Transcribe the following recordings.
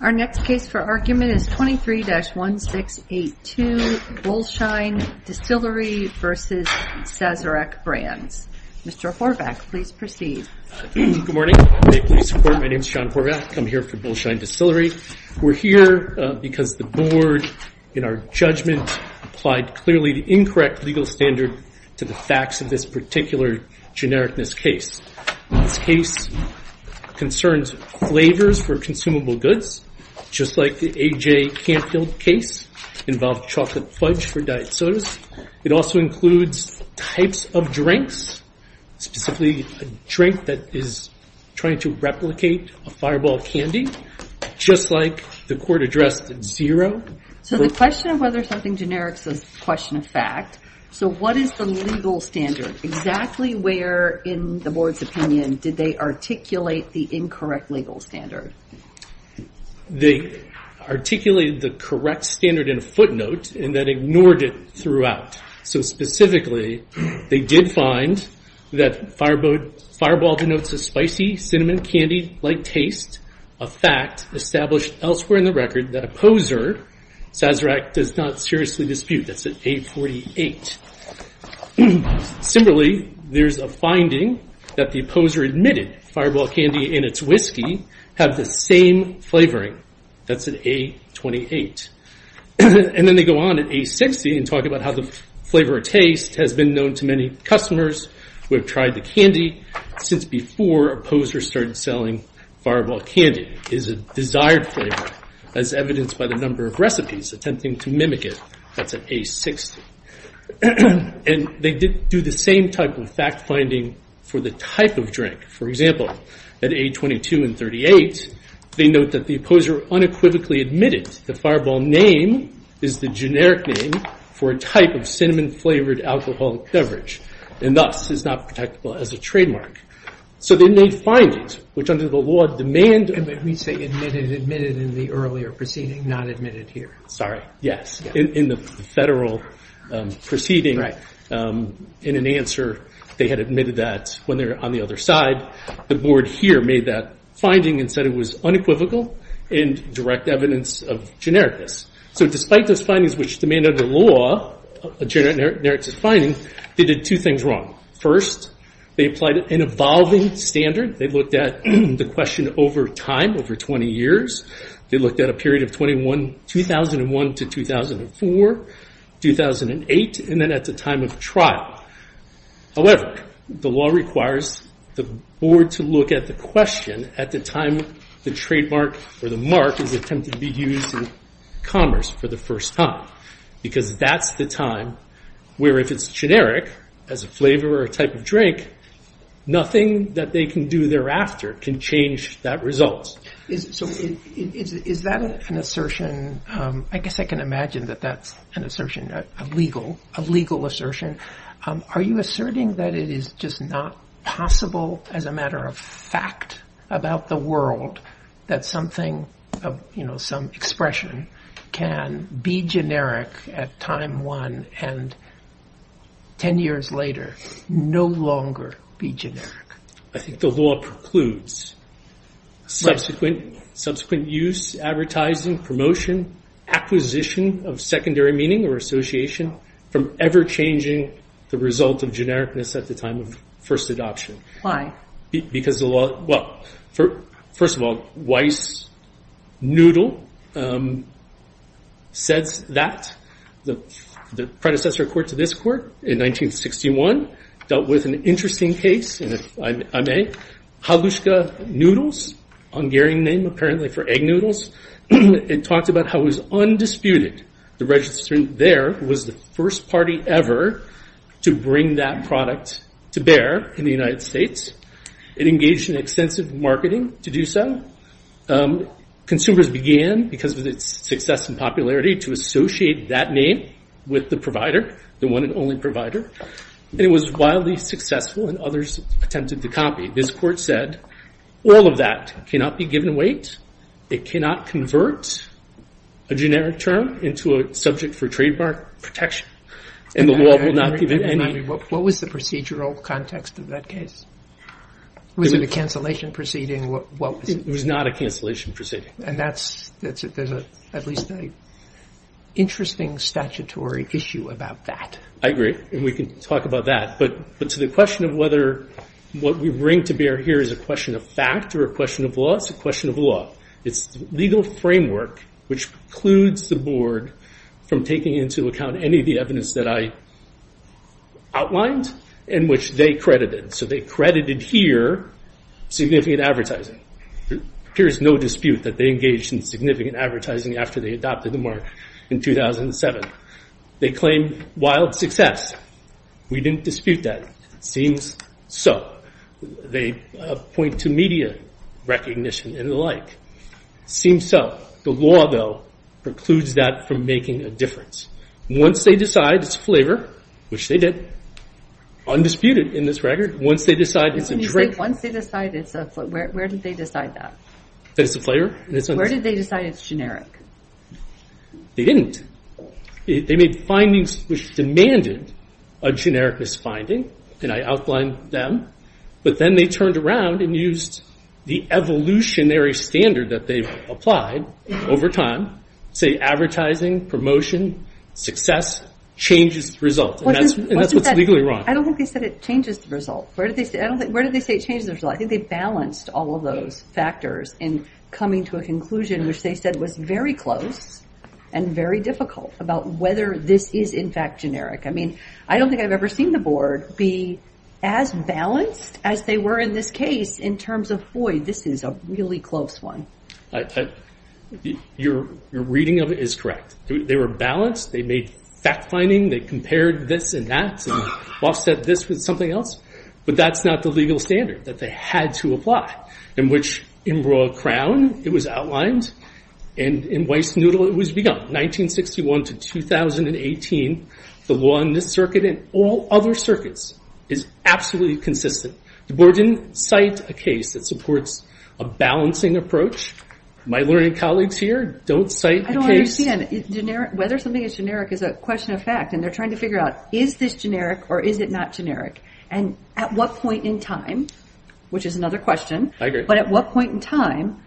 Our next case for argument is 23-1682, Bullshine Distillery v. Sazerac Brands. Mr. Horvath, please proceed. Good morning. Thank you for your support. My name is John Horvath. I'm here for Bullshine Distillery. We're here because the board, in our judgment, applied clearly the incorrect legal standard to the facts of this particular genericness case. This case concerns flavors for consumable goods, just like the A.J. Canfield case involved chocolate fudge for diet sodas. It also includes types of drinks, specifically a drink that is trying to replicate a fireball candy, just like the court addressed at zero. The question of whether something generic is a question of fact, what is the legal standard? Exactly where, in the board's opinion, did they articulate the incorrect legal standard? They articulated the correct standard in a footnote and then ignored it throughout. Specifically, they did find that fireball denotes a spicy cinnamon candy-like taste, a fact established elsewhere in the record that a poser, Sazerac, does not seriously dispute. That's an A48. Similarly, there's a finding that the poser admitted fireball candy and its whiskey have the same flavoring. That's an A28. Then they go on at A60 and talk about how the flavor or taste has been known to many customers who have tried the candy since before a poser started selling fireball candy. It is a desired flavor, as evidenced by the number of recipes attempting to mimic it. That's an A60. They did do the same type of fact-finding for the type of drink. For example, at A22 and 38, they note that the poser unequivocally admitted the fireball name is the generic name for a type of cinnamon-flavored alcoholic beverage and thus is not protectable as a trademark. They made findings which under the law demand... At least they admitted in the earlier proceeding, not admitted here. Sorry, yes. In the federal proceeding, in an answer, they had admitted that when they were on the other side. The board here made that finding and said it was unequivocal and direct evidence of genericness. Despite those findings which demand under the law a generic finding, they did two things wrong. First, they applied an evolving standard. They looked at the question over time, over 20 years. They looked at a period of 2001 to 2004, 2008, and then at the time of trial. However, the law requires the board to look at the question at the time the trademark or the mark is attempted to be used in commerce for the first time. Because that's the time where if it's generic as a flavor or a type of drink, nothing that they can do thereafter can change that result. Is that an assertion? I guess I can imagine that that's an assertion, a legal assertion. Are you asserting that it is just not possible as a matter of fact about the world that something, some expression can be generic at time one and 10 years later no longer be generic? I think the law precludes subsequent use, advertising, promotion, acquisition of secondary meaning or association from ever changing the result of genericness at the time of first adoption. Why? Because the law, well, first of all, Weiss noodle says that. The predecessor court to this court in 1961 dealt with an interesting case, and if I may, Haluska noodles, Hungarian name apparently for egg noodles. It talks about how it was undisputed the registrant there was the first party ever to bring that product to bear in the United States. It engaged in extensive marketing to do so. Consumers began, because of its success and popularity, to associate that name with the provider, the one and only provider. It was wildly successful, and others attempted to copy. This court said all of that cannot be given weight. It cannot convert a generic term into a subject for trademark protection, and the law will not give it any. What was the procedural context of that case? Was it a cancellation proceeding? It was not a cancellation proceeding. And that's at least an interesting statutory issue about that. I agree, and we can talk about that. But to the question of whether what we bring to bear here is a question of fact or a question of law, it's a question of law. It's the legal framework which precludes the board from taking into account any of the evidence that I outlined and which they credited. So they credited here significant advertising. There is no dispute that they engaged in significant advertising after they adopted the mark in 2007. They claimed wild success. We didn't dispute that. It seems so. They point to media recognition and the like. It seems so. The law, though, precludes that from making a difference. Once they decide it's a flavor, which they did, undisputed in this record, once they decide it's a drink. When you say once they decide it's a flavor, where did they decide that? That it's a flavor? Where did they decide it's generic? They didn't. They made findings which demanded a generic misfinding, and I outlined them. But then they turned around and used the evolutionary standard that they've applied over time, say advertising, promotion, success, changes the result. And that's what's legally wrong. I don't think they said it changes the result. Where did they say it changes the result? I think they balanced all of those factors in coming to a conclusion which they said was very close and very difficult about whether this is, in fact, generic. I mean, I don't think I've ever seen the board be as balanced as they were in this case in terms of, boy, this is a really close one. Your reading of it is correct. They were balanced. They made fact-finding. They compared this and that and offset this with something else. But that's not the legal standard that they had to apply, in which in Broad Crown it was outlined, and in Weissnudel it was begun, 1961 to 2018. The law in this circuit and all other circuits is absolutely consistent. The board didn't cite a case that supports a balancing approach. My learning colleagues here don't cite a case. I don't understand. Whether something is generic is a question of fact, and they're trying to figure out, is this generic or is it not generic? And at what point in time, which is another question, but at what point in time,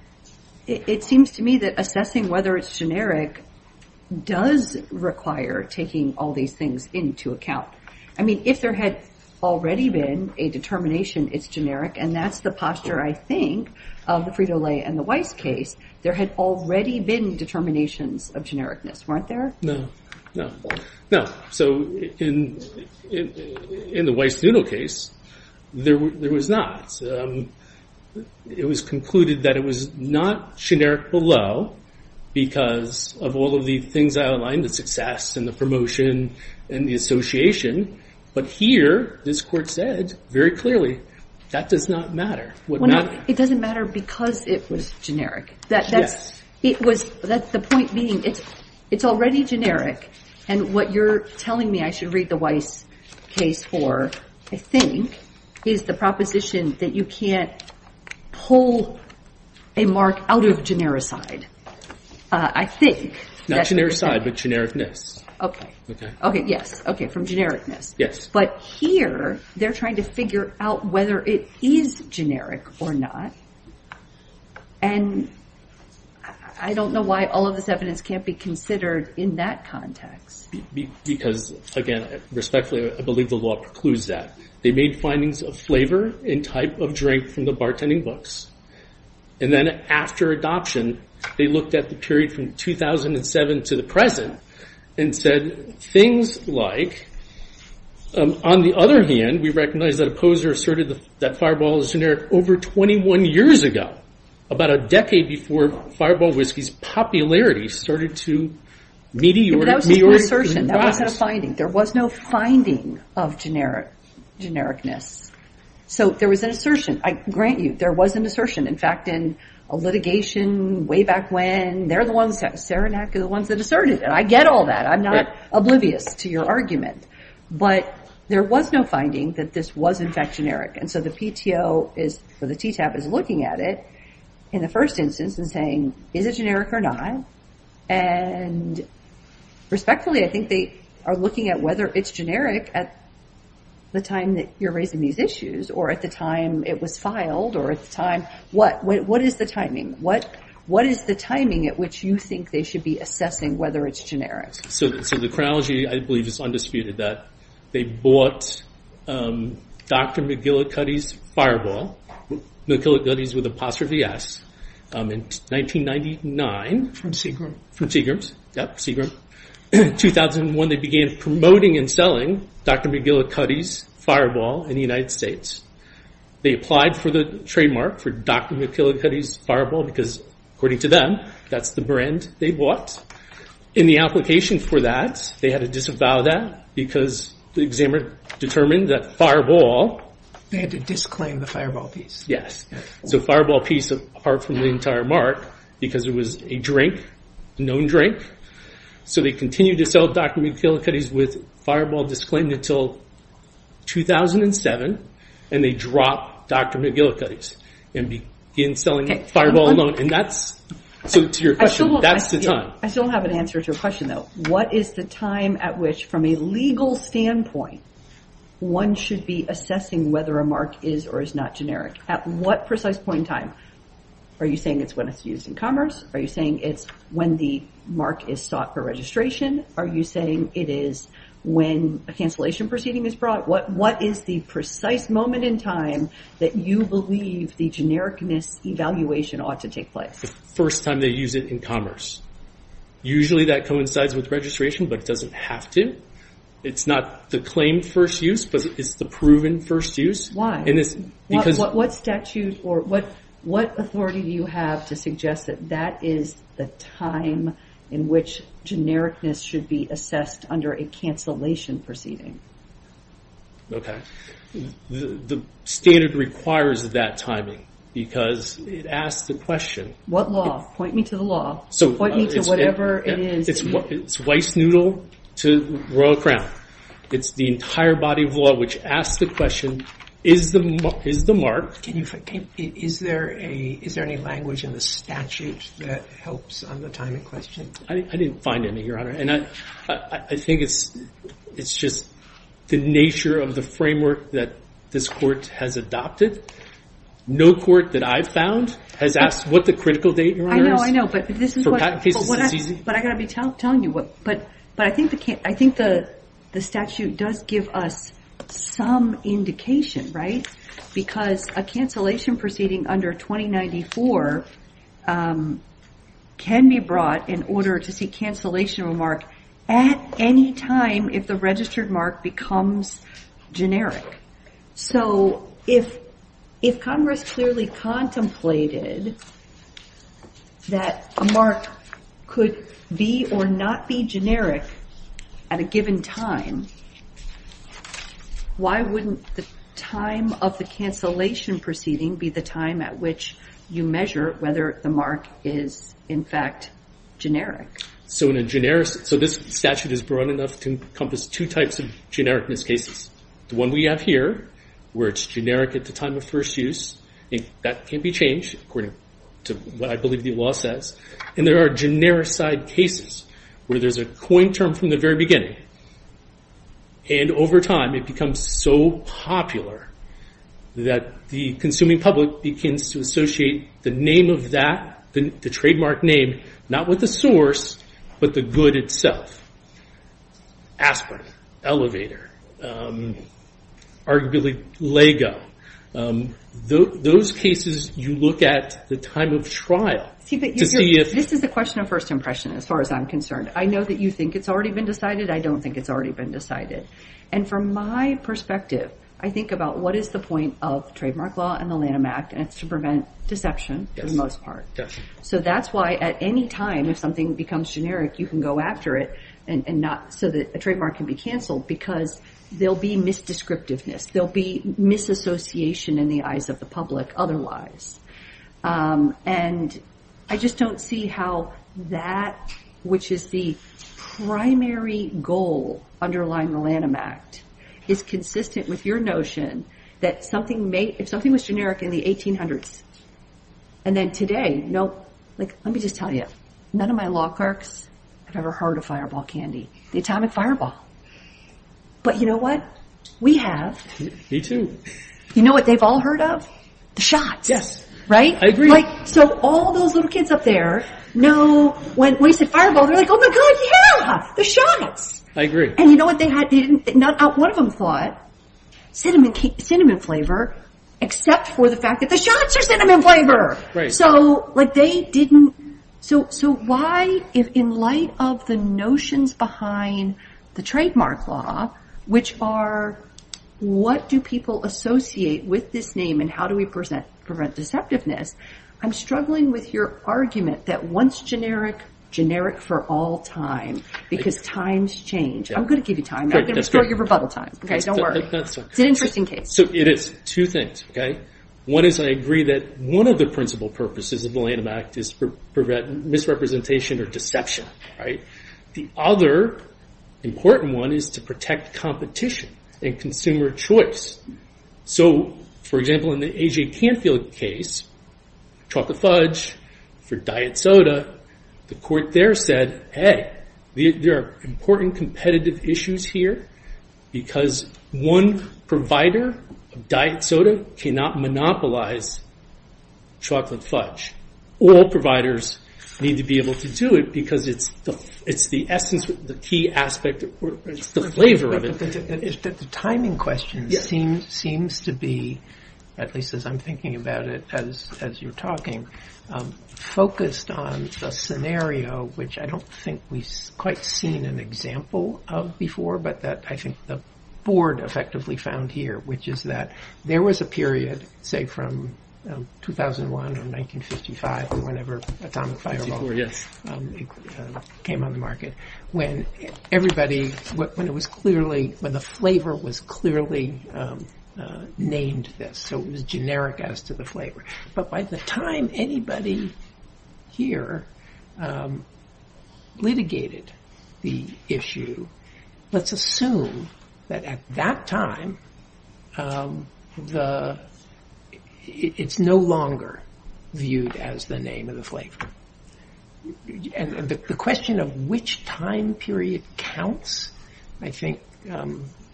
it seems to me that assessing whether it's generic does require taking all these things into account. I mean, if there had already been a determination it's generic, and that's the posture, I think, of the Frito-Lay and the Weiss case, there had already been determinations of genericness, weren't there? No. No. So in the Weissnudel case, there was not. It was concluded that it was not generic below because of all of the things I outlined, the success and the promotion and the association. But here, this court said very clearly, that does not matter. It doesn't matter because it was generic. That's the point being, it's already generic, and what you're telling me I should read the Weiss case for, I think, is the proposition that you can't pull a mark out of genericide. I think. Not genericide, but genericness. Okay. Okay, yes. Okay, from genericness. Yes. But here, they're trying to figure out whether it is generic or not. And I don't know why all of this evidence can't be considered in that context. Because, again, respectfully, I believe the law precludes that. They made findings of flavor and type of drink from the bartending books. And then after adoption, they looked at the period from 2007 to the present and said things like, on the other hand, we recognize that a poser asserted that Fireball is generic over 21 years ago. About a decade before Fireball Whiskey's popularity started to meteorize. But that was just an assertion. That wasn't a finding. There was no finding of genericness. So there was an assertion. I grant you, there was an assertion. In fact, in a litigation way back when, they're the ones, Saranac are the ones that asserted it. I get all that. I'm not oblivious to your argument. But there was no finding that this was, in fact, generic. And so the PTO, or the TTAP, is looking at it in the first instance and saying, is it generic or not? And respectfully, I think they are looking at whether it's generic at the time that you're raising these issues or at the time it was filed or at the time. What is the timing? What is the timing at which you think they should be assessing whether it's generic? So the chronology, I believe, is undisputed. They bought Dr. McGillicuddy's Fireball, McGillicuddy's with an apostrophe S, in 1999. From Seagram. From Seagram. Yep, Seagram. In 2001, they began promoting and selling Dr. McGillicuddy's Fireball in the United States. They applied for the trademark for Dr. McGillicuddy's Fireball because, according to them, that's the brand they bought. In the application for that, they had to disavow that because the examiner determined that Fireball... They had to disclaim the Fireball piece. Yes. So Fireball piece, apart from the entire mark, because it was a drink, a known drink. So they continued to sell Dr. McGillicuddy's with Fireball disclaimed until 2007, and they dropped Dr. McGillicuddy's and began selling Fireball alone. So to your question, that's the time. I still have an answer to your question, though. What is the time at which, from a legal standpoint, one should be assessing whether a mark is or is not generic? At what precise point in time? Are you saying it's when it's used in commerce? Are you saying it's when the mark is sought for registration? Are you saying it is when a cancellation proceeding is brought? What is the precise moment in time that you believe the genericness evaluation ought to take place? The first time they use it in commerce. Usually that coincides with registration, but it doesn't have to. It's not the claimed first use, but it's the proven first use. What authority do you have to suggest that that is the time in which genericness should be assessed under a cancellation proceeding? The standard requires that timing, because it asks the question. What law? Point me to the law. Point me to whatever it is. It's Weissnudel to Royal Crown. It's the entire body of law, which asks the question, is the mark? Is there any language in the statute that helps on the timing question? I didn't find any, Your Honor. I think it's just the nature of the framework that this Court has adopted. No court that I've found has asked what the critical date, Your Honor, is. I know, I know, but I've got to be telling you. I think the statute does give us some indication, right? Because a cancellation proceeding under 2094 can be brought in order to see cancellation of a mark at any time if the registered mark becomes generic. So if Congress clearly contemplated that a mark could be or not be generic at a given time, why wouldn't the time of the cancellation proceeding be the time at which you measure whether the mark is, in fact, generic? So this statute is broad enough to encompass two types of genericness cases. The one we have here, where it's generic at the time of first use. That can't be changed according to what I believe the law says. And there are generic side cases where there's a coined term from the very beginning. And over time, it becomes so popular that the consuming public begins to associate the name of that, the trademark name, not with the source, but the good itself. Aspirin, elevator, arguably Lego. Those cases, you look at the time of trial. This is a question of first impression, as far as I'm concerned. I know that you think it's already been decided. I don't think it's already been decided. And from my perspective, I think about what is the point of trademark law and the Lanham Act, and it's to prevent deception for the most part. So that's why at any time, if something becomes generic, you can go after it, so that a trademark can be canceled, because there'll be misdescriptiveness. There'll be misassociation in the eyes of the public otherwise. And I just don't see how that, which is the primary goal underlying the Lanham Act, is consistent with your notion that if something was generic in the 1800s, and then today, let me just tell you, none of my law clerks have ever heard of fireball candy, the atomic fireball. But you know what? We have. Me too. You know what they've all heard of? The shots. Yes. Right? I agree. So all those little kids up there know when we said fireball, they're like, oh my God, yeah, the shots. I agree. And you know what? Not one of them thought cinnamon flavor, except for the fact that the shots are cinnamon flavor. So like they didn't. So why, in light of the notions behind the trademark law, which are what do people associate with this name and how do we prevent deceptiveness, I'm struggling with your argument that once generic, generic for all time, because times change. I'm going to give you time. I'm going to restore your rebuttal time. Okay? Don't worry. It's an interesting case. So it is. Two things, okay? One is I agree that one of the principal purposes of the Lanham Act is to prevent misrepresentation or deception, right? The other important one is to protect competition and consumer choice. So, for example, in the A.J. Canfield case, chocolate fudge for diet soda, the court there said, hey, there are important competitive issues here because one provider of diet soda cannot monopolize chocolate fudge. All providers need to be able to do it because it's the essence, the key aspect, it's the flavor of it. The timing question seems to be, at least as I'm thinking about it as you're talking, focused on the scenario, which I don't think we've quite seen an example of before, but that I think the board effectively found here, which is that there was a period, say, from 2001 or 1955 or whenever atomic fireball came on the market, when everybody, when it was clearly, when the flavor was clearly named this, so it was generic as to the flavor. But by the time anybody here litigated the issue, let's assume that at that time, it's no longer viewed as the name of the flavor. And the question of which time period counts, I think,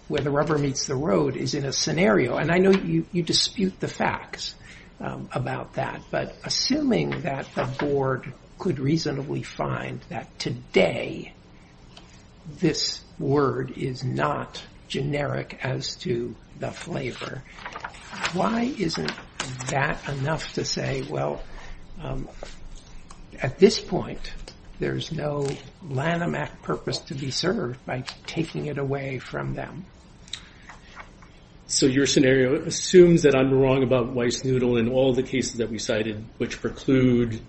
where the rubber meets the road is in a scenario. And I know you dispute the facts about that. But assuming that the board could reasonably find that today this word is not generic as to the flavor, why isn't that enough to say, well, at this point, there's no Lanham Act purpose to be served by taking it away from them? So your scenario assumes that I'm wrong about Weiss noodle in all the cases that we cited, which preclude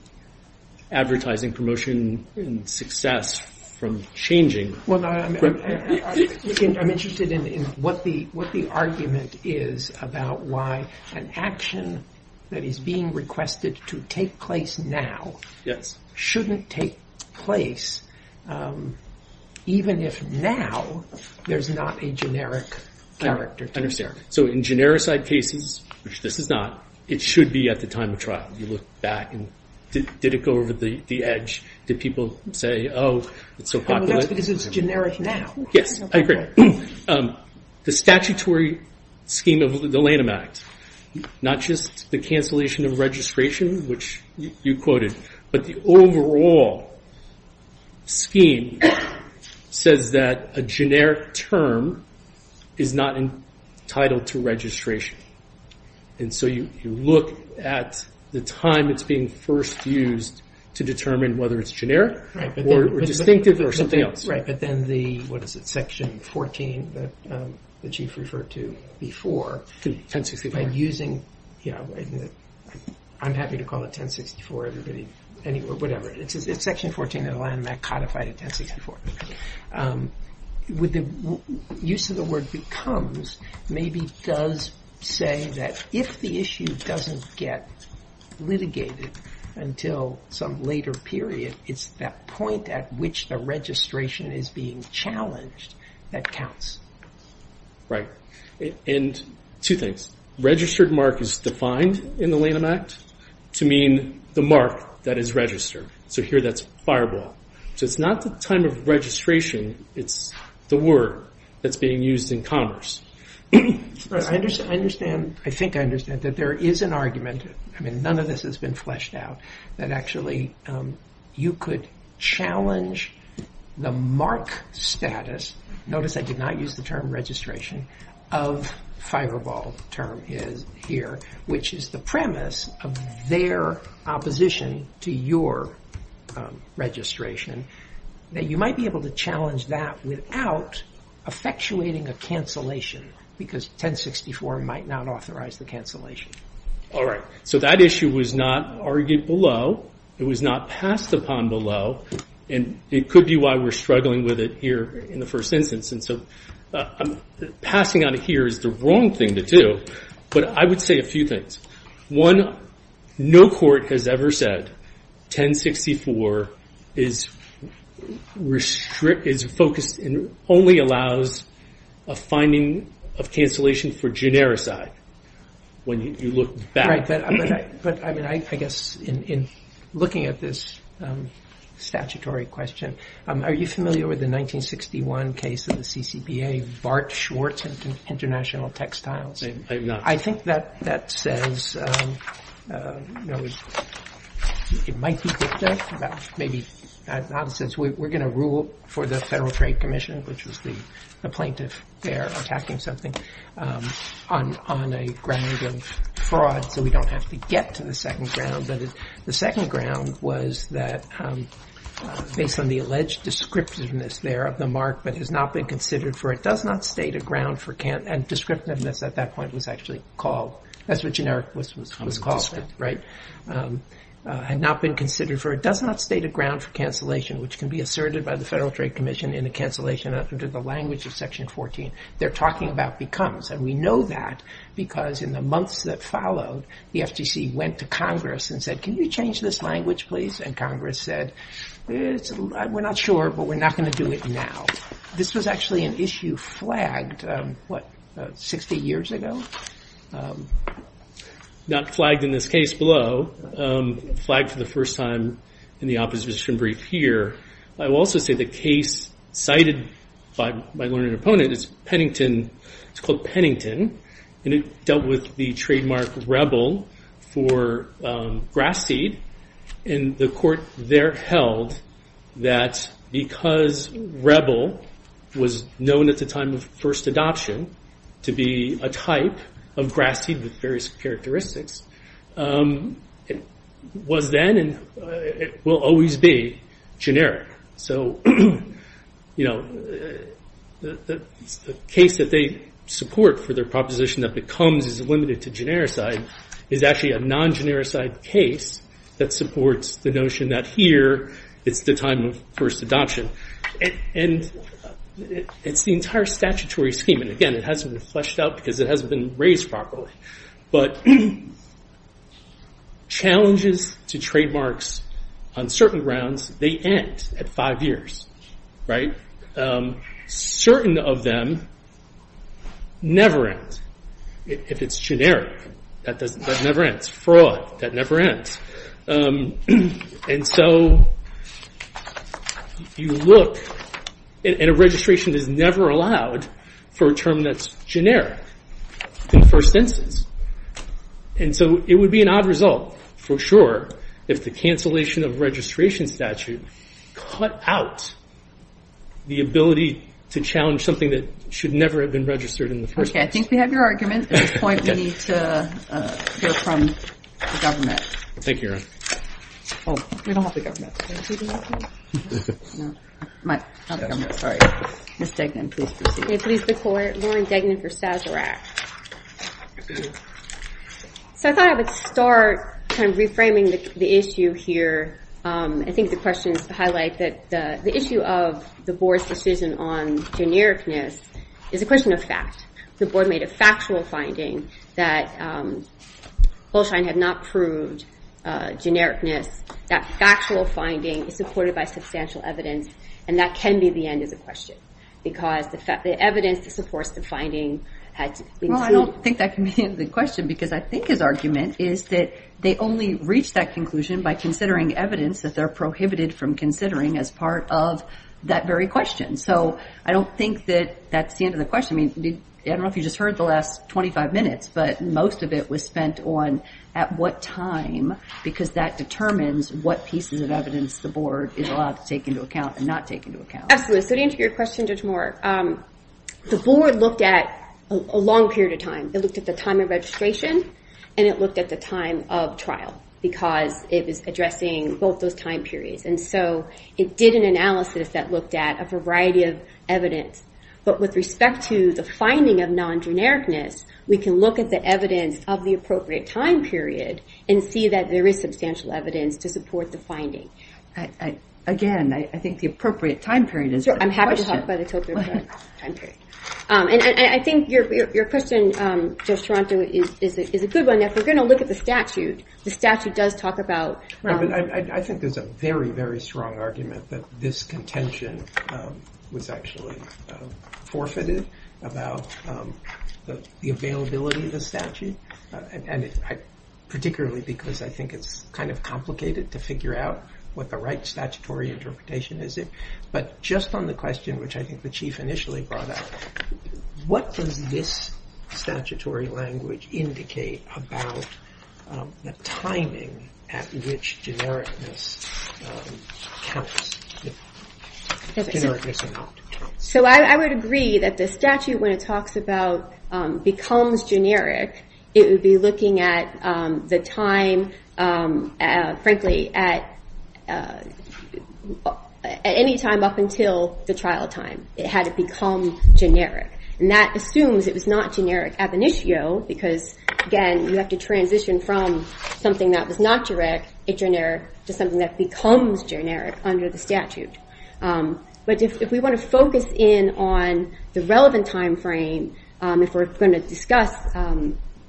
advertising promotion and success from changing. I'm interested in what the argument is about why an action that is being requested to take place now shouldn't take place, even if now there's not a generic character. So in generic side cases, which this is not, it should be at the time of trial. You look back and did it go over the edge? Did people say, oh, it's so popular? Because it's generic now. Yes, I agree. The statutory scheme of the Lanham Act, not just the cancellation of registration, which you quoted, but the overall scheme says that a generic term is not entitled to registration. And so you look at the time it's being first used to determine whether it's generic or distinctive or something else. Right, but then the, what is it, section 14 that the chief referred to before. 1064. By using, I'm happy to call it 1064, whatever. It's section 14 of the Lanham Act codified at 1064. The use of the word becomes maybe does say that if the issue doesn't get litigated until some later period, it's that point at which the registration is being challenged that counts. Right. And two things. Registered mark is defined in the Lanham Act to mean the mark that is registered. So here that's fireball. So it's not the time of registration. It's the word that's being used in commerce. I understand. I think I understand that there is an argument. I mean, none of this has been fleshed out that actually you could challenge the mark status. Notice I did not use the term registration of fireball term here, which is the premise of their opposition to your registration, that you might be able to challenge that without effectuating a cancellation because 1064 might not authorize the cancellation. All right. So that issue was not argued below. It was not passed upon below. And it could be why we're struggling with it here in the first instance. And so passing on it here is the wrong thing to do. But I would say a few things. One, no court has ever said 1064 is focused and only allows a finding of cancellation for genericity when you look back. All right. But, I mean, I guess in looking at this statutory question, are you familiar with the 1961 case of the CCBA, Bart Schwartz International Textiles? I have not. I think that says it might be dicta, but maybe not. It says we're going to rule for the Federal Trade Commission, which was the plaintiff there attacking something, on a ground of fraud. So we don't have to get to the second ground. But the second ground was that based on the alleged descriptiveness there of the mark, but has not been considered for, it does not state a ground for, and descriptiveness at that point was actually called, that's what generic was called then, right, had not been considered for, it does not state a ground for cancellation, which can be asserted by the Federal Trade Commission in a cancellation under the language of Section 14. They're talking about becomes. And we know that because in the months that followed, the FTC went to Congress and said, can you change this language, please? And Congress said, we're not sure, but we're not going to do it now. This was actually an issue flagged, what, 60 years ago? Not flagged in this case below. Flagged for the first time in the opposition brief here. I will also say the case cited by my learned opponent is Pennington. It's called Pennington, and it dealt with the trademark rebel for grass seed. And the court there held that because rebel was known at the time of first adoption to be a type of grass seed with various characteristics, it was then and will always be generic. So, you know, the case that they support for their proposition that becomes is limited to generic side is actually a non-generic side case that supports the notion that here it's the time of first adoption. And it's the entire statutory scheme. And, again, it hasn't been fleshed out because it hasn't been raised properly. But challenges to trademarks on certain grounds, they end at five years, right? Certain of them never end. If it's generic, that never ends. Fraud, that never ends. And so if you look, and a registration is never allowed for a term that's generic in the first instance. And so it would be an odd result, for sure, if the cancellation of registration statute cut out the ability to challenge something that should never have been registered in the first instance. Okay, I think we have your argument. At this point, we need to hear from the government. Thank you, Your Honor. Oh, we don't have the government. Not the government, sorry. Ms. Degnan, please proceed. May it please the Court. Lauren Degnan for Sazerac. So I thought I would start kind of reframing the issue here. I think the questions highlight that the issue of the Board's decision on genericness is a question of fact. The Board made a factual finding that Holstein had not proved genericness. That factual finding is supported by substantial evidence, and that can be the end of the question. Because the evidence supports the finding. Well, I don't think that can be the end of the question, because I think his argument is that they only reach that conclusion by considering evidence that they're prohibited from considering as part of that very question. So I don't think that that's the end of the question. I don't know if you just heard the last 25 minutes, but most of it was spent on at what time, because that determines what pieces of evidence the Board is allowed to take into account and not take into account. Absolutely. So to answer your question, Judge Moore, the Board looked at a long period of time. It looked at the time of registration, and it looked at the time of trial, because it was addressing both those time periods. And so it did an analysis that looked at a variety of evidence. But with respect to the finding of non-genericness, we can look at the evidence of the appropriate time period and see that there is substantial evidence to support the finding. Again, I think the appropriate time period is the question. I'm happy to talk about the appropriate time period. And I think your question, Judge Toronto, is a good one. If we're going to look at the statute, the statute does talk about… I think there's a very, very strong argument that this contention was actually forfeited about the availability of the statute, particularly because I think it's kind of complicated to figure out what the right statutory interpretation is. But just on the question, which I think the Chief initially brought up, what does this statutory language indicate about the timing at which genericness counts? Genericness or not counts. So I would agree that the statute, when it talks about becomes generic, it would be looking at the time, frankly, at any time up until the trial time. It had to become generic. And that assumes it was not generic ab initio because, again, you have to transition from something that was not generic to something that becomes generic under the statute. But if we want to focus in on the relevant time frame, if we're going to discuss,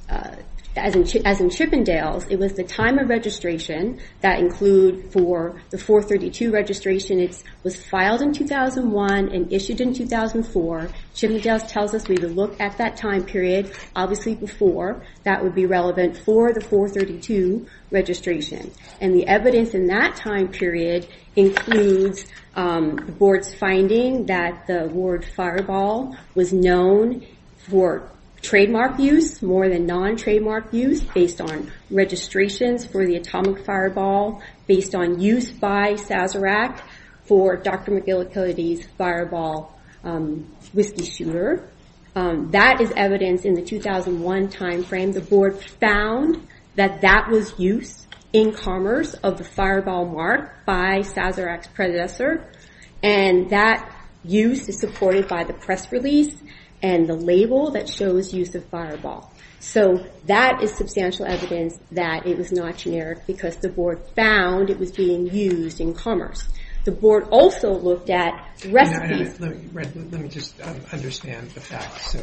as in Chippendales, it was the time of registration that include for the 432 registration. It was filed in 2001 and issued in 2004. Chippendales tells us we would look at that time period, obviously before. That would be relevant for the 432 registration. And the evidence in that time period includes the board's finding that the word fireball was known for trademark use, more than non-trademark use, based on registrations for the atomic fireball, based on use by Sazerac for Dr. McGillicuddy's fireball whiskey shooter. That is evidence in the 2001 time frame. The board found that that was used in commerce of the fireball mark by Sazerac's predecessor. And that use is supported by the press release and the label that shows use of fireball. So that is substantial evidence that it was not generic because the board found it was being used in commerce. The board also looked at recipes. Let me just understand the facts.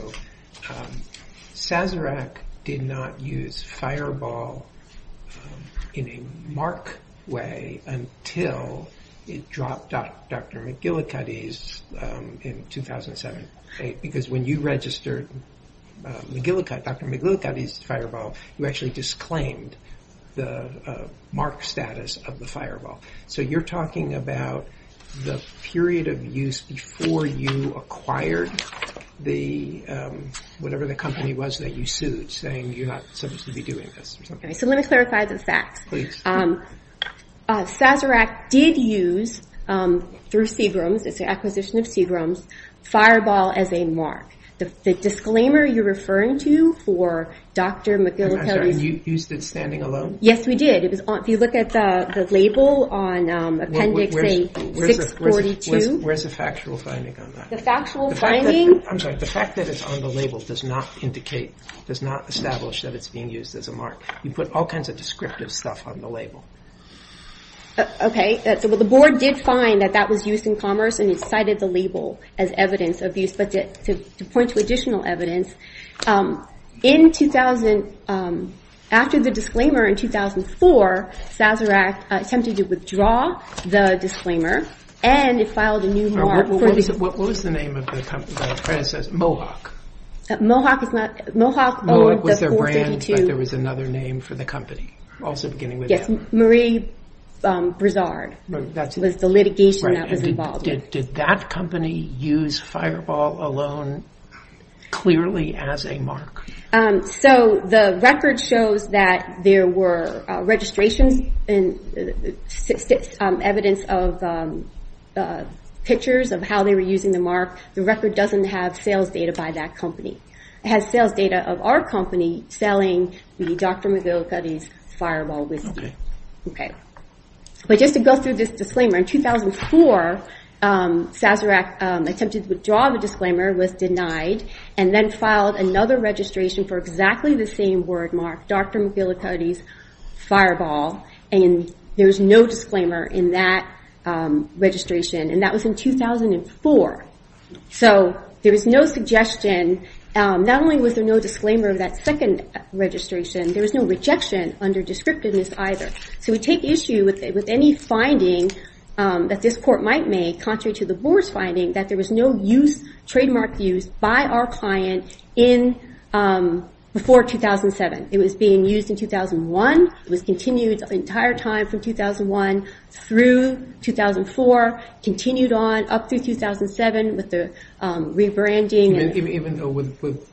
Sazerac did not use fireball in a mark way until it dropped Dr. McGillicuddy's in 2007. Because when you registered Dr. McGillicuddy's fireball, you actually disclaimed the mark status of the fireball. So you're talking about the period of use before you acquired the, whatever the company was that you sued, saying you're not supposed to be doing this. So let me clarify the facts. Sazerac did use, through Seagram's, it's an acquisition of Seagram's, fireball as a mark. The disclaimer you're referring to for Dr. McGillicuddy's... I'm sorry, you used it standing alone? Yes, we did. If you look at the label on Appendix A642... Where's the factual finding on that? The factual finding... I'm sorry, the fact that it's on the label does not establish that it's being used as a mark. You put all kinds of descriptive stuff on the label. Okay, so the board did find that that was used in commerce and it cited the label as evidence of use. But to point to additional evidence, after the disclaimer in 2004, Sazerac attempted to withdraw the disclaimer and it filed a new mark for... What was the name of the predecessor? Mohawk? Mohawk is not... Mohawk... Mohawk was their brand, but there was another name for the company, also beginning with Mohawk. Yes, Marie Broussard was the litigation that was involved. Did that company use Fireball alone clearly as a mark? The record shows that there were registrations and evidence of pictures of how they were using the mark. The record doesn't have sales data by that company. It has sales data of our company selling the Dr. McGillicuddy's Fireball whiskey. Just to go through this disclaimer. In 2004, Sazerac attempted to withdraw the disclaimer, was denied, and then filed another registration for exactly the same word mark, Dr. McGillicuddy's Fireball. There was no disclaimer in that registration. That was in 2004. There was no suggestion. Not only was there no disclaimer of that second registration, there was no rejection under descriptiveness either. We take issue with any finding that this court might make, contrary to the board's finding, that there was no trademark use by our client before 2007. It was being used in 2001. It was continued the entire time from 2001 through 2004, continued on up through 2007 with the rebranding. Even though with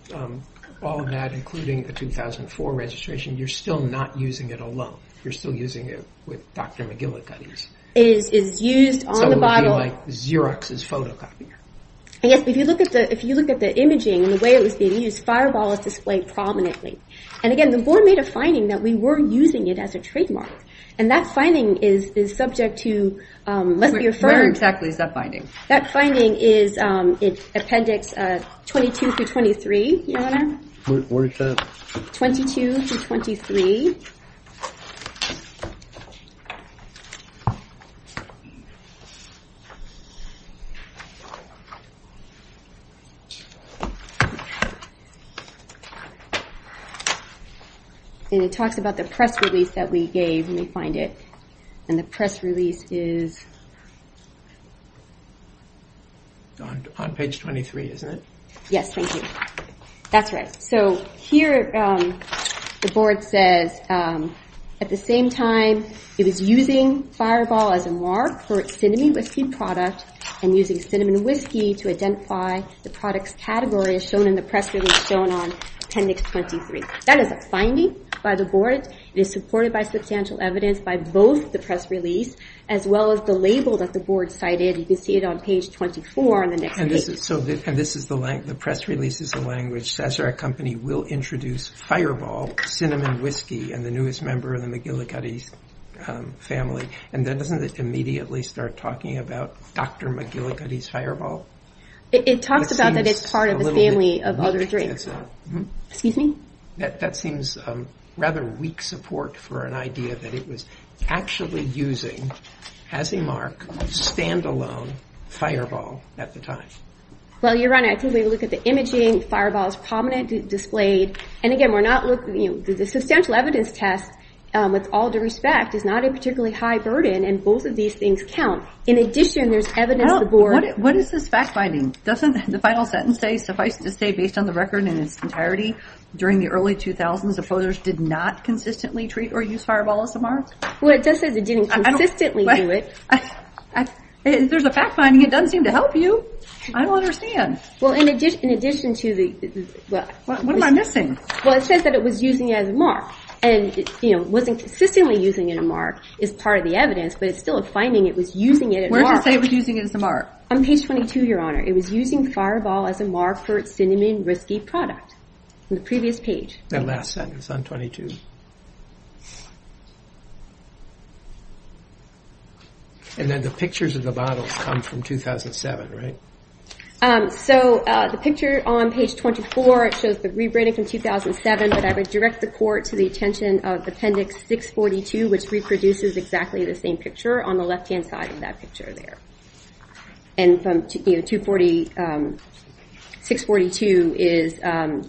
all of that, including the 2004 registration, you're still not using it alone. You're still using it with Dr. McGillicuddy's. It is used on the bottle. It would be like Xerox's photocopier. If you look at the imaging and the way it was being used, Fireball is displayed prominently. Again, the board made a finding that we were using it as a trademark. That finding is subject to... Where exactly is that finding? That finding is Appendix 22 through 23. Where is that? 22 through 23. It talks about the press release that we gave. Let me find it. The press release is... On page 23, isn't it? Yes, thank you. That's right. Here, the board says, at the same time it was using Fireball as a moire for its cinnamon whiskey product and using cinnamon whiskey to identify the product's category, as shown in the press release shown on Appendix 23. That is a finding by the board. It is supported by substantial evidence by both the press release as well as the label that the board cited. You can see it on page 24 on the next page. The press release is the language, Sazerac Company will introduce Fireball cinnamon whiskey and the newest member of the McGillicuddy family. Doesn't it immediately start talking about Dr. McGillicuddy's Fireball? It talks about that it's part of a family of other drinks. Excuse me? That seems rather weak support for an idea that it was actually using, as a mark, stand-alone Fireball at the time. Well, Your Honor, I think when you look at the imaging, Fireball is prominently displayed. And again, we're not looking... The substantial evidence test, with all due respect, is not a particularly high burden, and both of these things count. In addition, there's evidence the board... What is this fact-finding? Doesn't the final sentence say, based on the record in its entirety, during the early 2000s, opposers did not consistently treat or use Fireball as a mark? Well, it does say they didn't consistently do it. If there's a fact-finding, it doesn't seem to help you. I don't understand. Well, in addition to the... What am I missing? Well, it says that it was using it as a mark. And, you know, it wasn't consistently using it as a mark, is part of the evidence, but it's still a finding it was using it as a mark. Where does it say it was using it as a mark? On page 22, Your Honor. It was using Fireball as a mark for its cinnamon risky product. On the previous page. That last sentence on 22. And then the pictures of the bottles come from 2007, right? So, the picture on page 24, it shows the rebranding from 2007, but I would direct the court to the attention of appendix 642, which reproduces exactly the same picture on the left-hand side of that picture there. And from, you know, 642 is... I'm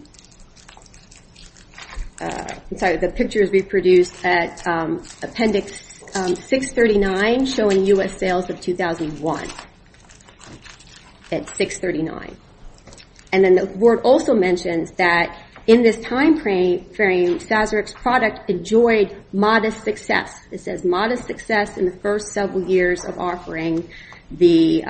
sorry, the picture is reproduced at appendix 639, showing U.S. sales of 2001. At 639. And then the board also mentions that, in this time frame, Sazerac's product enjoyed modest success. It says modest success in the first several years of offering, the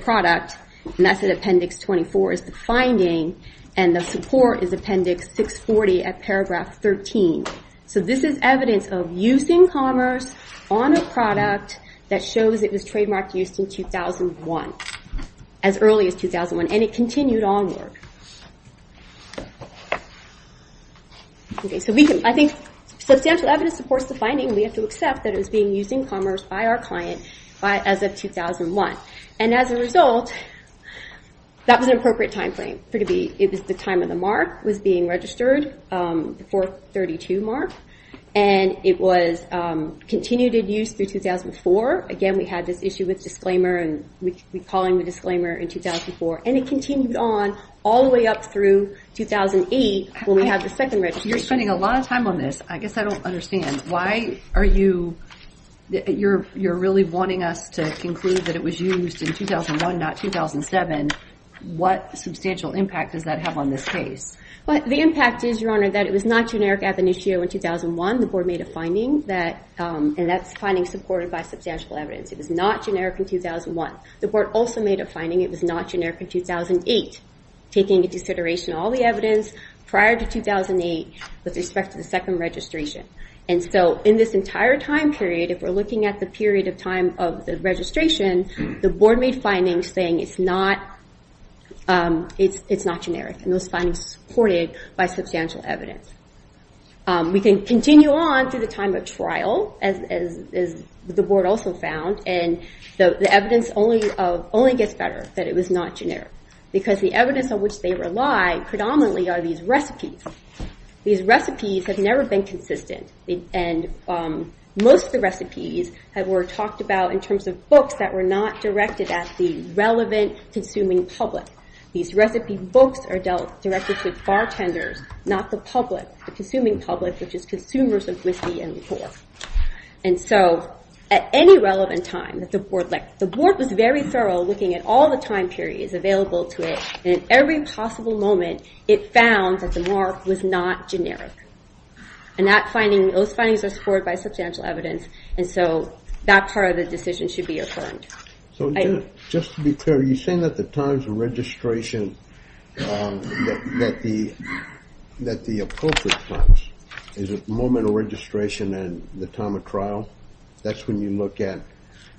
product. And that's at appendix 24, is the finding. And the support is appendix 640 at paragraph 13. So this is evidence of use in commerce on a product that shows it was trademarked used in 2001. As early as 2001. And it continued onward. Okay, so we can... I think substantial evidence supports the finding. We have to accept that it was being used in commerce by our client as of 2001. And as a result, that was an appropriate time frame for it to be. It was the time when the mark was being registered, the 432 mark. And it was continued in use through 2004. Again, we had this issue with disclaimer, and we called it a disclaimer in 2004. And it continued on all the way up through 2008, when we had the second registration. You're spending a lot of time on this. I guess I don't understand. Why are you... You're really wanting us to conclude that it was used in 2001, not 2007. What substantial impact does that have on this case? The impact is, Your Honor, that it was not generic ab initio in 2001. The Board made a finding that... And that's finding supported by substantial evidence. It was not generic in 2001. The Board also made a finding it was not generic in 2008, taking into consideration all the evidence prior to 2008 with respect to the second registration. And so, in this entire time period, if we're looking at the period of time of the registration, the Board made findings saying it's not generic. And those findings supported by substantial evidence. We can continue on through the time of trial, as the Board also found, and the evidence only gets better that it was not generic. Because the evidence on which they rely predominantly are these recipes. These recipes have never been consistent. And most of the recipes were talked about in terms of books that were not directed at the relevant consuming public. These recipe books are dealt directly with bartenders, not the public, the consuming public, which is consumers of whiskey and liquor. And so, at any relevant time, the Board was very thorough looking at all the time periods available to it. And at every possible moment, it found that the mark was not generic. And those findings are supported by substantial evidence. And so, that part of the decision should be affirmed. So, just to be clear, you're saying that the times of registration, that the appropriate times, is it moment of registration and the time of trial? That's when you look at...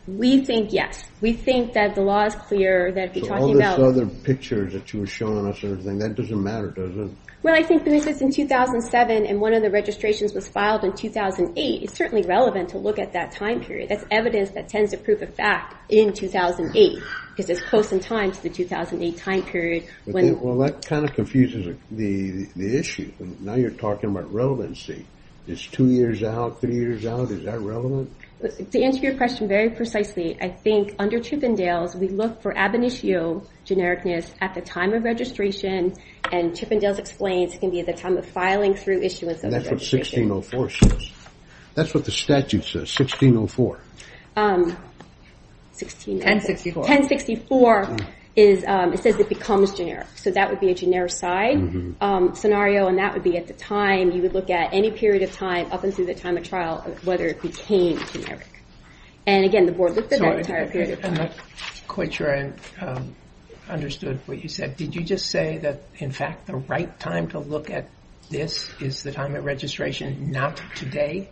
We think yes. We think that the law is clear, that if you're talking about... So, all those other pictures that you were showing us, that doesn't matter, does it? Well, I think this is in 2007, and one of the registrations was filed in 2008. It's certainly relevant to look at that time period. That's evidence that tends to prove a fact in 2008, because it's close in time to the 2008 time period. Well, that kind of confuses the issue. Now you're talking about relevancy. Is two years out, three years out, is that relevant? To answer your question very precisely, I think, under Chippendales, we look for ab initio genericness at the time of registration, and Chippendales explains it can be at the time of filing through issuance of the registration. And that's what 1604 says. That's what the statute says, 1604. 1064. 1064 says it becomes generic, so that would be a generic side scenario, and that would be at the time you would look at any period of time, up until the time of trial, whether it became generic. And again, the board looked at that entire period of time. I'm not quite sure I understood what you said. Did you just say that, in fact, the right time to look at this is the time of registration, not today?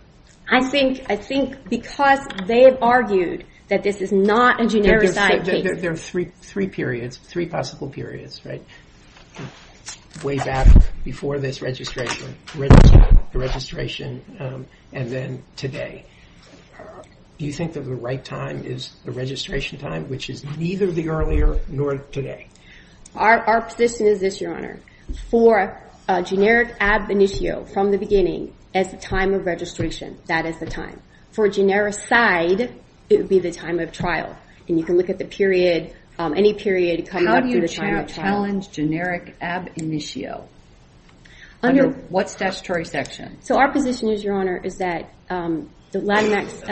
I think because they've argued that this is not a generic side case. There are three periods, three possible periods, right? Way back before this registration, the registration, and then today. Do you think that the right time is the registration time, which is neither the earlier nor today? Our position is this, Your Honor. For a generic ab initio, from the beginning, as the time of registration, that is the time. For a generic side, it would be the time of trial. And you can look at the period, any period coming up to the time of trial. How do you challenge generic ab initio? Under what statutory section? So our position is, Your Honor, is that Latinx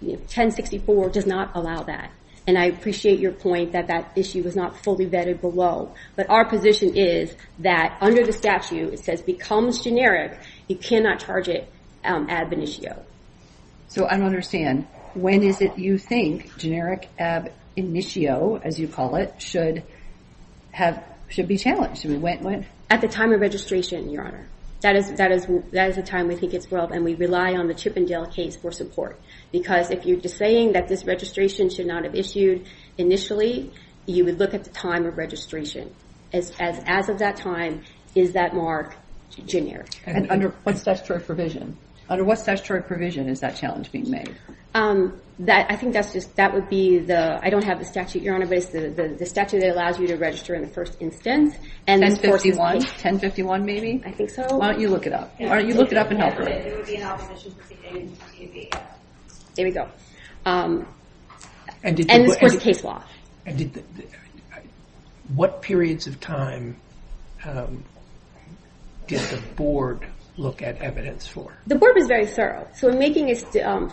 1064 does not allow that. And I appreciate your point that that issue was not fully vetted below. But our position is that, under the statute, it says becomes generic, you cannot charge it ab initio. So I don't understand. When is it you think generic ab initio, as you call it, should be challenged? At the time of registration, Your Honor. That is the time we think it's well, and we rely on the Chippendale case for support. Because if you're just saying that this registration should not have issued initially, you would look at the time of registration. As of that time, is that mark generic? And under what statutory provision? Under what statutory provision is that challenge being made? I think that would be the, I don't have the statute, Your Honor, but it's the statute that allows you to register in the first instance. 1051? 1051, maybe? I think so. Why don't you look it up? Why don't you look it up and help her? There we go. And this was a case law. What periods of time did the Board look at evidence for? The Board was very thorough. So in making its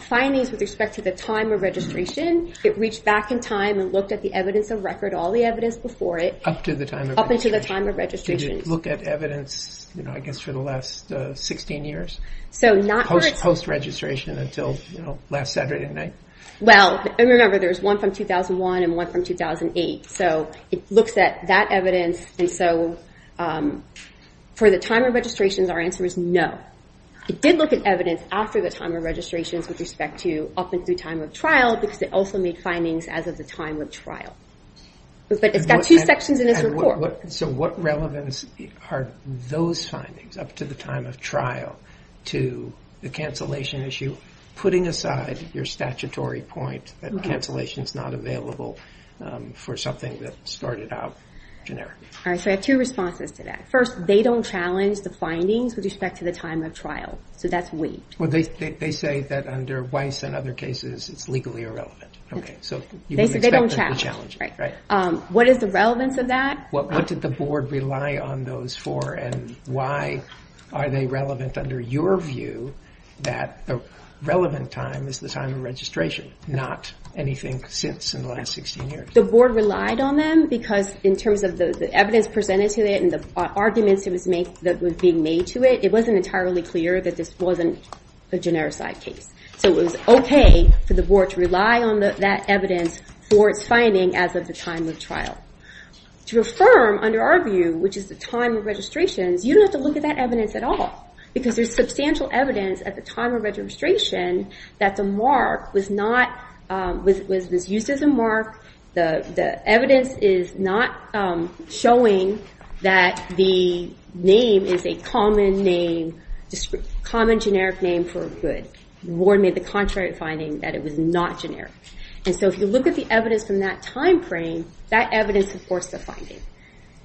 findings with respect to the time of registration, it reached back in time and looked at the evidence of record, all the evidence before it. Up to the time of registration. Up until the time of registration. Did it look at evidence, I guess, for the last 16 years? Post-registration until last Saturday night? Well, remember, there's one from 2001 and one from 2008. So it looks at that evidence. And so for the time of registration, our answer is no. It did look at evidence after the time of registration with respect to up until the time of trial because it also made findings as of the time of trial. But it's got two sections in its report. So what relevance are those findings up to the time of trial to the cancellation issue, putting aside your statutory point that cancellation's not available for something that started out generically? All right, so I have two responses to that. First, they don't challenge the findings with respect to the time of trial. So that's weak. Well, they say that under Weiss and other cases, it's legally irrelevant. Okay, so you wouldn't expect them to challenge it, right? What is the relevance of that? What did the board rely on those for? And why are they relevant under your view that the relevant time is the time of registration, not anything since in the last 16 years? The board relied on them because in terms of the evidence presented to it and the arguments that were being made to it, it wasn't entirely clear that this wasn't a genericized case. So it was okay for the board to rely on that evidence for its finding as of the time of trial. To affirm under our view, which is the time of registrations, you don't have to look at that evidence at all because there's substantial evidence at the time of registration that the mark was not, was used as a mark. The evidence is not showing that the name is a common name, common generic name for a good. The board made the contrary finding that it was not generic. And so if you look at the evidence from that time frame, that evidence supports the finding.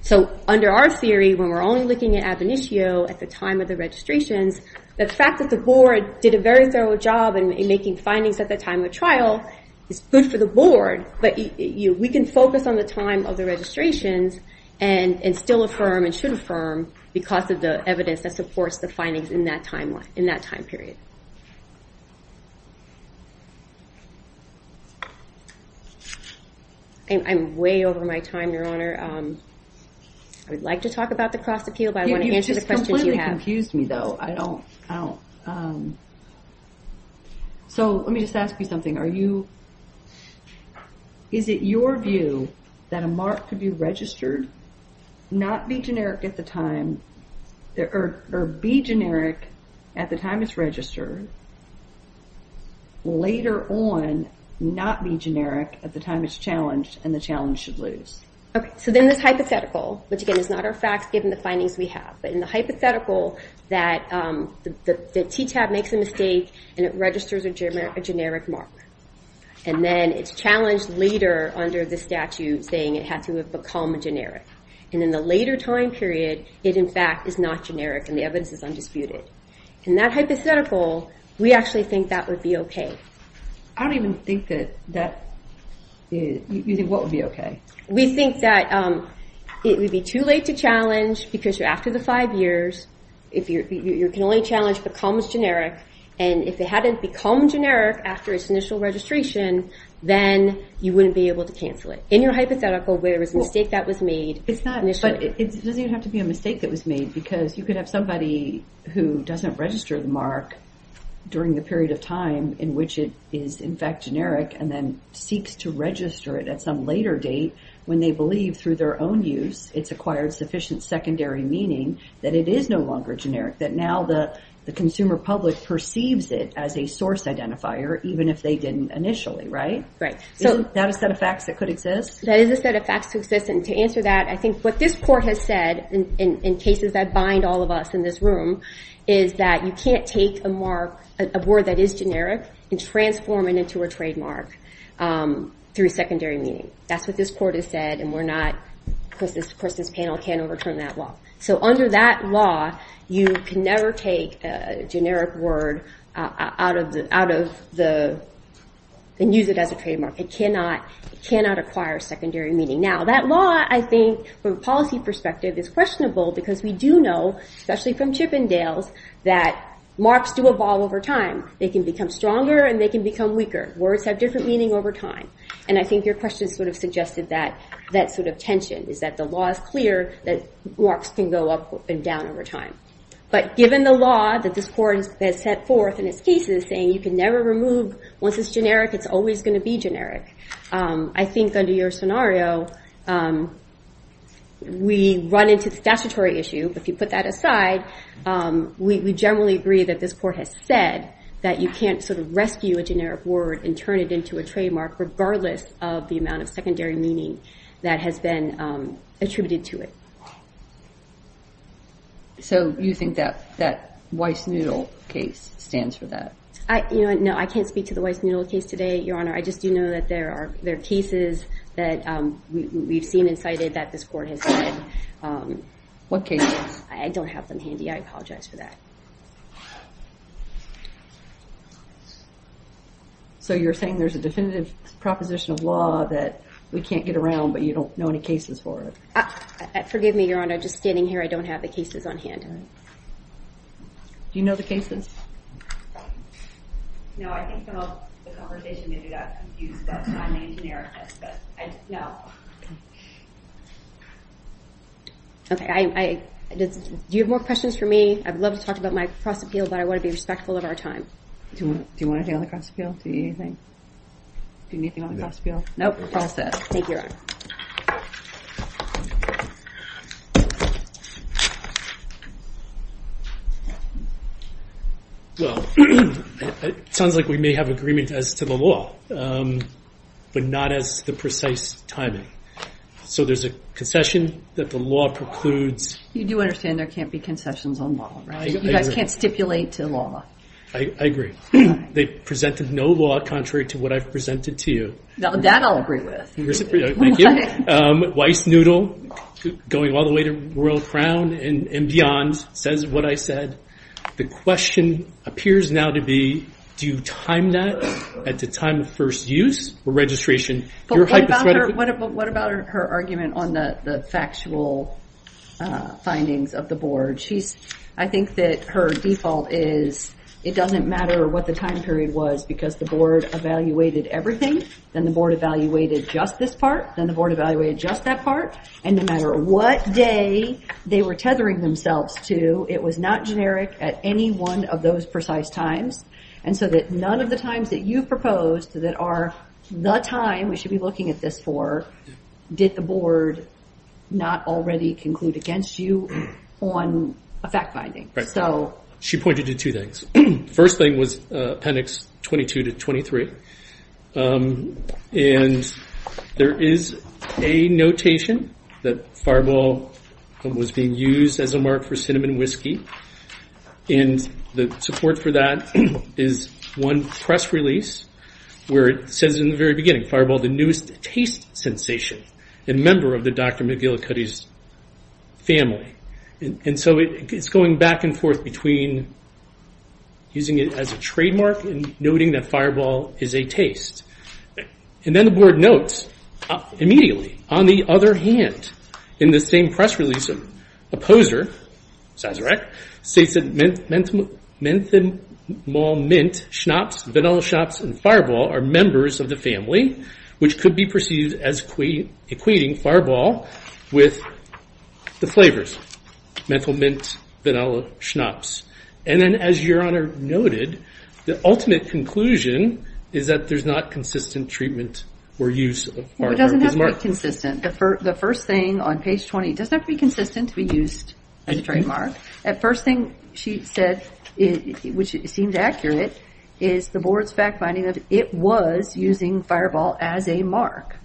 So under our theory, when we're only looking at ab initio at the time of the registrations, the fact that the board did a very thorough job in making findings at the time of trial is good for the board, but we can focus on the time of the registrations and still affirm and should affirm because of the evidence that supports the findings in that time period. I'm way over my time, Your Honor. I would like to talk about the cross appeal, but I want to answer the questions you have. You've just completely confused me, though. I don't, I don't. So let me just ask you something. Are you, is it your view that a mark could be registered, not be generic at the time, or be generic at the time it's registered, later on not be generic at the time it's challenged and the challenge should lose? Okay, so then this hypothetical, which again is not our facts given the findings we have, but in the hypothetical that the TTAB makes a mistake and it registers a generic mark. And then it's challenged later under the statute saying it had to have become generic. And in the later time period, it in fact is not generic, and the evidence is undisputed. In that hypothetical, we actually think that would be okay. I don't even think that that, you think what would be okay? We think that it would be too late to challenge because you're after the five years. You can only challenge becomes generic. And if it hadn't become generic after its initial registration, then you wouldn't be able to cancel it. In your hypothetical, where there was a mistake that was made initially. But it doesn't even have to be a mistake that was made because you could have somebody who doesn't register the mark during the period of time in which it is in fact generic and then seeks to register it at some later date when they believe through their own use it's acquired sufficient secondary meaning that it is no longer generic. That now the consumer public perceives it as a source identifier, even if they didn't initially, right? Right. Is that a set of facts that could exist? That is a set of facts that could exist. And to answer that, I think what this court has said in cases that bind all of us in this room is that you can't take a mark, a word that is generic and transform it into a trademark through secondary meaning. That's what this court has said and we're not, of course this panel can't overturn that law. So under that law, you can never take a generic word out of the, and use it as a trademark. It cannot acquire secondary meaning. Now that law I think, from a policy perspective, is questionable because we do know, especially from Chippendales, that marks do evolve over time. They can become stronger and they can become weaker. Words have different meaning over time. And I think your question sort of suggested that, that sort of tension is that the law is clear that marks can go up and down over time. But given the law that this court has set forth in its cases saying you can never remove, once it's generic, it's always going to be generic, I think under your scenario we run into the statutory issue, but if you put that aside, we generally agree that this court has said that you can't sort of rescue a generic word and turn it into a trademark regardless of the amount of secondary meaning that has been attributed to it. So you think that Weiss-Noodle case stands for that? No, I can't speak to the Weiss-Noodle case today, Your Honor. I just do know that there are cases that we've seen and cited that this court has said. What cases? I don't have them handy. I apologize for that. So you're saying there's a definitive proposition of law that we can't get around but you don't know any cases for it? Forgive me, Your Honor. I'm just standing here. I don't have the cases on hand. Do you know the cases? No, I think the whole conversation maybe got confused but I'm not a genericist. No. Do you have more questions for me? I'd love to talk about my cross appeal but I want to be respectful of our time. Do you want to deal with cross appeal? Do you need anything? Do you need anything on the cross appeal? No, we're all set. Thank you, Your Honor. It sounds like we may have agreement as to the law. But not as the precise timing. So there's a concession that the law precludes. You do understand there can't be concessions on law, right? You guys can't stipulate to law. I agree. They presented no law contrary to what I've presented to you. That I'll agree with. Thank you. Weissnudel going all the way to Royal Crown and beyond says what I said. The question appears now to be do you time that at the time of first use or registration? What about her argument on the factual findings of the Board? I think that her default is it doesn't matter what the time period was because the Board evaluated everything. Then the Board evaluated just this part. Then the Board evaluated just that part. And no matter what day they were tethering themselves to it was not generic at any one of those precise times. And so that none of the times that you proposed that are the time we should be looking at this for did the Board not already conclude against you on a fact finding. She pointed to two things. First thing was appendix 22 to 23. And there is a notation that Fireball was being used as a mark for cinnamon whiskey. And the support for that is one press release where it says in the very beginning Fireball the newest taste sensation and member of the Dr. McGillicuddy's family. And so it's going back and forth between using it as a trademark and noting that Fireball is a taste. And then the Board notes immediately on the other hand in the same press release Opposer says menthol mint schnapps vanilla schnapps and Fireball are members of the family which could be perceived as equating Fireball with the flavors. Menthol mint vanilla schnapps. And then as your Honor noted the ultimate conclusion is that there's not consistent treatment or use of Fireball. It doesn't have to be consistent. The first thing on page 20 doesn't have to be consistent to be used as a trademark. The first thing she said which seems accurate is the Board's fact finding that it was using Fireball as a mark.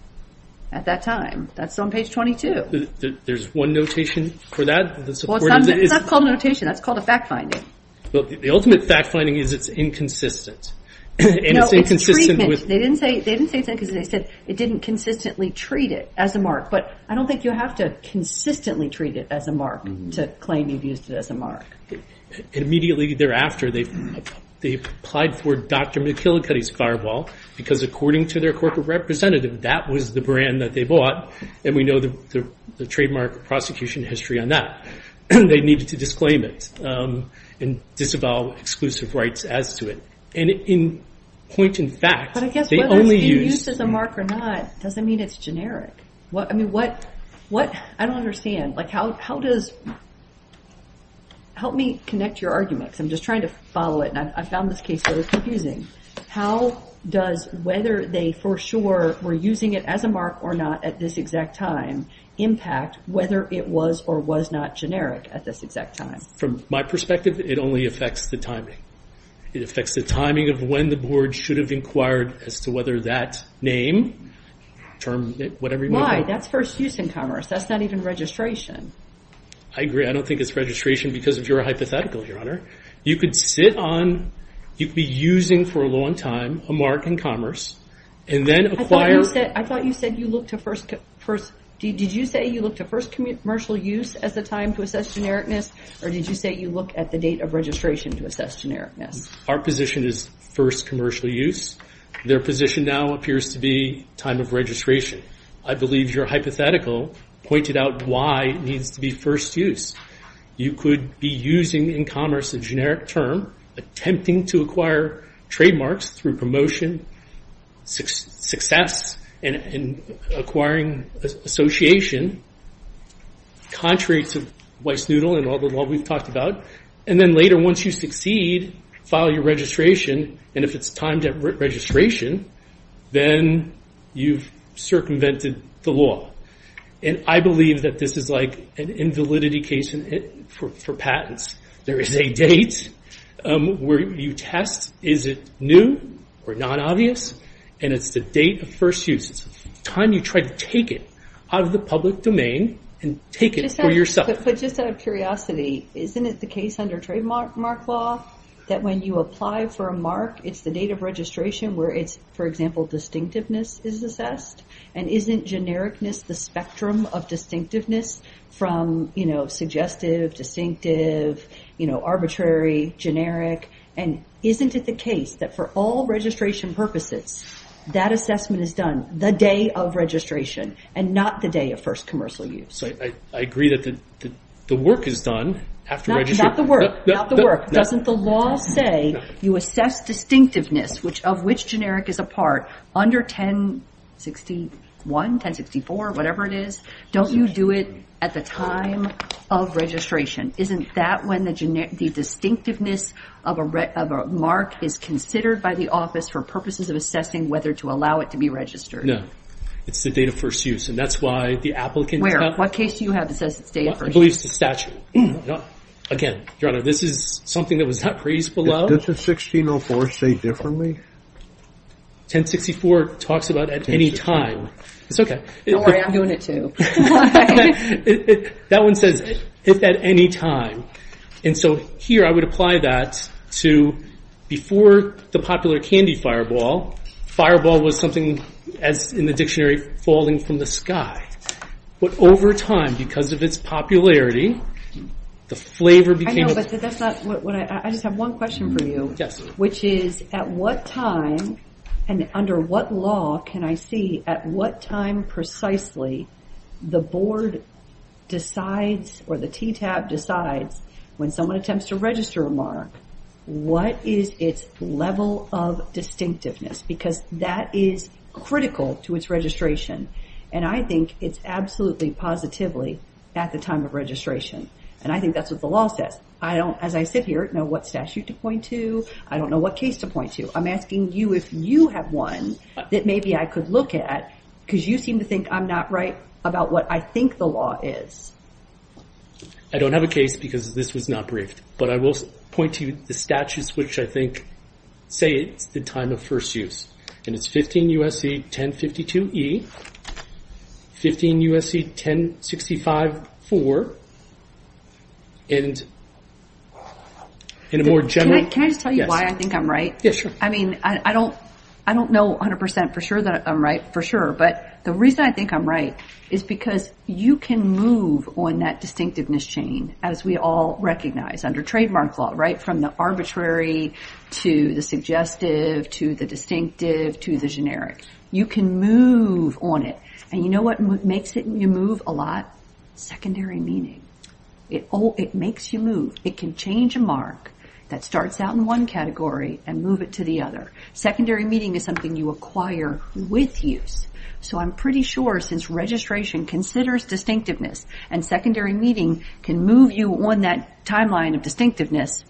At that time. That's on page 22. There's one notation for that? That's not called a notation. That's called a fact finding. The ultimate fact finding is it's inconsistent. No, it's treatment. They didn't say it's inconsistent. They said it didn't consistently treat it as a mark. But I don't think you have to consistently treat it as a mark to claim you've used it as a mark. Immediately thereafter they applied for Dr. McKillicutty's Fireball because according to their corporate representative that was the brand that they bought. And we know the trademark prosecution history on that. They needed to disclaim it and disavow exclusive rights as to it. And in point and fact they only used... But I guess whether it's been used as a mark or not doesn't mean it's generic. I don't understand. How does... Help me connect your arguments. I'm just trying to follow it. I found this case very confusing. How does whether they for sure were using it as a mark or not at this exact time impact whether it was or was not generic at this exact time? From my perspective it only affects the timing. It affects the timing of when the board should have inquired as to whether that name term, whatever you want to call it... Why? That's first use in commerce. That's not even registration. I agree. I don't think it's registration because of your hypothetical, Your Honor. You could sit on... You could be using for a long time a mark in commerce and then acquire... I thought you said you looked at first... Did you say you looked at first commercial use as a time to assess genericness or did you say you look at the date of registration to assess genericness? Our position is first commercial use. Their position now appears to be time of registration. I believe your hypothetical pointed out why it needs to be first use. You could be using in commerce a generic term attempting to acquire trademarks through promotion success and acquiring association contrary to Weissnudel and all the law we've talked about and then later once you succeed file your registration and if it's timed at registration then you've circumvented the law. I believe that this is like an invalidity case for patents. There is a date where you test is it new or non-obvious and it's the date of first use. It's the time you try to take it out of the public domain and take it for yourself. Just out of curiosity, isn't it the case under trademark law that when you apply for a mark it's the date of registration where it's for example distinctiveness is assessed and isn't genericness the spectrum of distinctiveness from suggestive, distinctive, arbitrary, generic and isn't it the case that for all registration purposes that assessment is done the day of registration and not the day of first commercial use? I agree that the work is done after registration. Not the work. Doesn't the law say you assess distinctiveness of which generic is a part under 1061, 1064, whatever it is, don't you do it at the time of registration? Isn't that when the distinctiveness of a mark is considered by the office for purposes of assessing whether to allow it to be registered? No. It's the date of first use and that's why the applicant... Where? What case do you have that says it's date of first use? I believe it's the statute. Again, Your Honor, this is something that was not raised below. Does the 1604 say differently? 1064 talks about at any time. It's okay. Don't worry, I'm doing it too. That one says if at any time. And so here I would apply that to before the popular candy fireball, fireball was something as in the dictionary, falling from the sky. But over time, because of its popularity, the flavor became... I just have one question for you, which is at what time and under what law can I see at what time precisely the board decides or the TTAB decides when someone attempts to register a mark, what is its level of distinctiveness? Because that is critical to its registration and I think it's absolutely positively at the time of registration. And I think that's what the law says. I don't, as I sit here, know what statute to point to. I don't know what case to point to. I'm asking you if you have one that maybe I could look at because you seem to think I'm not right about what I think the law is. I don't have a case because this was not briefed, but I will point to the statutes which I think say it's the time of first use. And it's 15 U.S.C. 1052E 15 U.S.C. 1065E And Can I just tell you why I think I'm right? I mean, I don't know 100% for sure that I'm right for sure, but the reason I think I'm right is because you can move on that distinctiveness chain as we all recognize under trademark law, right? From the arbitrary to the suggestive to the distinctive to the generic. You can move on it. And you know what makes it move a lot? Secondary meaning. It makes you move. It can change a mark that starts out in one category and move it to the other. Secondary meaning is something you acquire with use. So I'm pretty sure since registration considers distinctiveness and secondary meaning can move you on that timeline of distinctiveness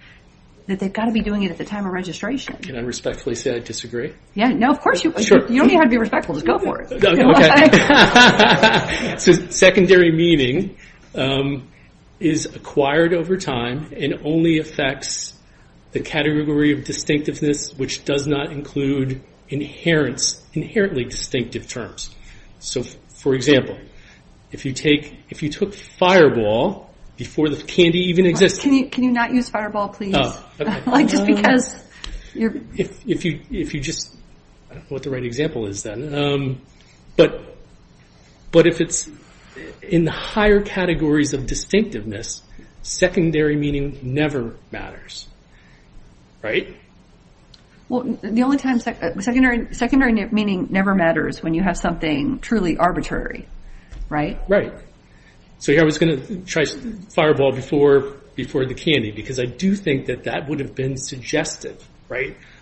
that they've got to be doing it at the time of registration. Can I respectfully say I disagree? No, of course. You don't need to be respectful. Just go for it. So secondary meaning is acquired over time and only affects the category of distinctiveness which does not include inherently distinctive terms. So, for example, if you took fireball before the candy even existed Can you not use fireball, please? Just because if you just I don't know what the right example is then but if it's in the higher categories of distinctiveness secondary meaning never matters. Well, the only time secondary meaning never matters when you have something truly arbitrary. Right? Right. So I was going to try fireball before the candy because I do think that that would have been suggestive.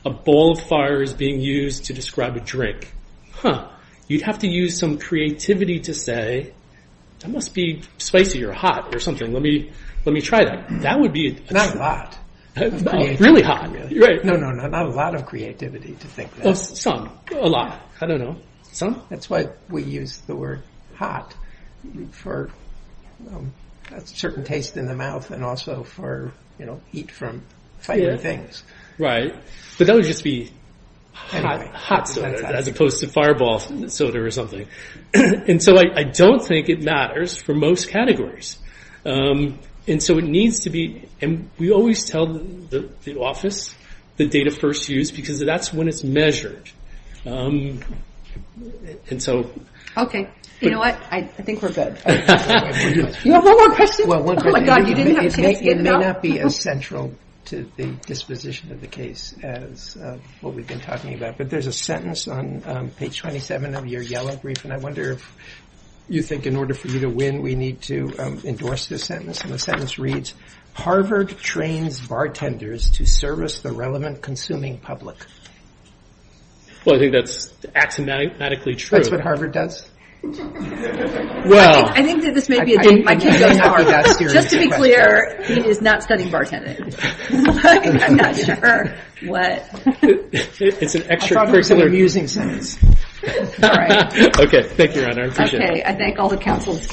A bowl of fire is being used to describe a drink. Huh. You'd have to use some creativity to say that must be spicy or hot or something. Let me try that. Not a lot. Really hot. Not a lot of creativity to think that. Some. A lot. I don't know. That's why we use the word hot for a certain taste in the mouth and also for heat from fighting things. But that would just be hot soda as opposed to fireball soda or something. And so I don't think it matters for most categories. And so it needs to be and we always tell the office the date of first use because that's when it's measured. Okay. You know what? I think we're good. You have one more question? Oh my god. You didn't have a chance to get it up. It may not be as central to the disposition of the case as what we've been talking about. But there's a sentence on page 27 of your yellow brief and I wonder if you think in order for you to win we need to endorse this sentence. And the sentence reads, Harvard trains bartenders to service the relevant consuming public. Well I think that's axiomatically true. That's what Harvard does? Well I think that this may be a date. Just to be clear, he is not studying bartending. I'm not sure what. It's an extra amusing sentence. Okay. Thank you, Your Honor. I appreciate it. Okay. I thank all the counsels.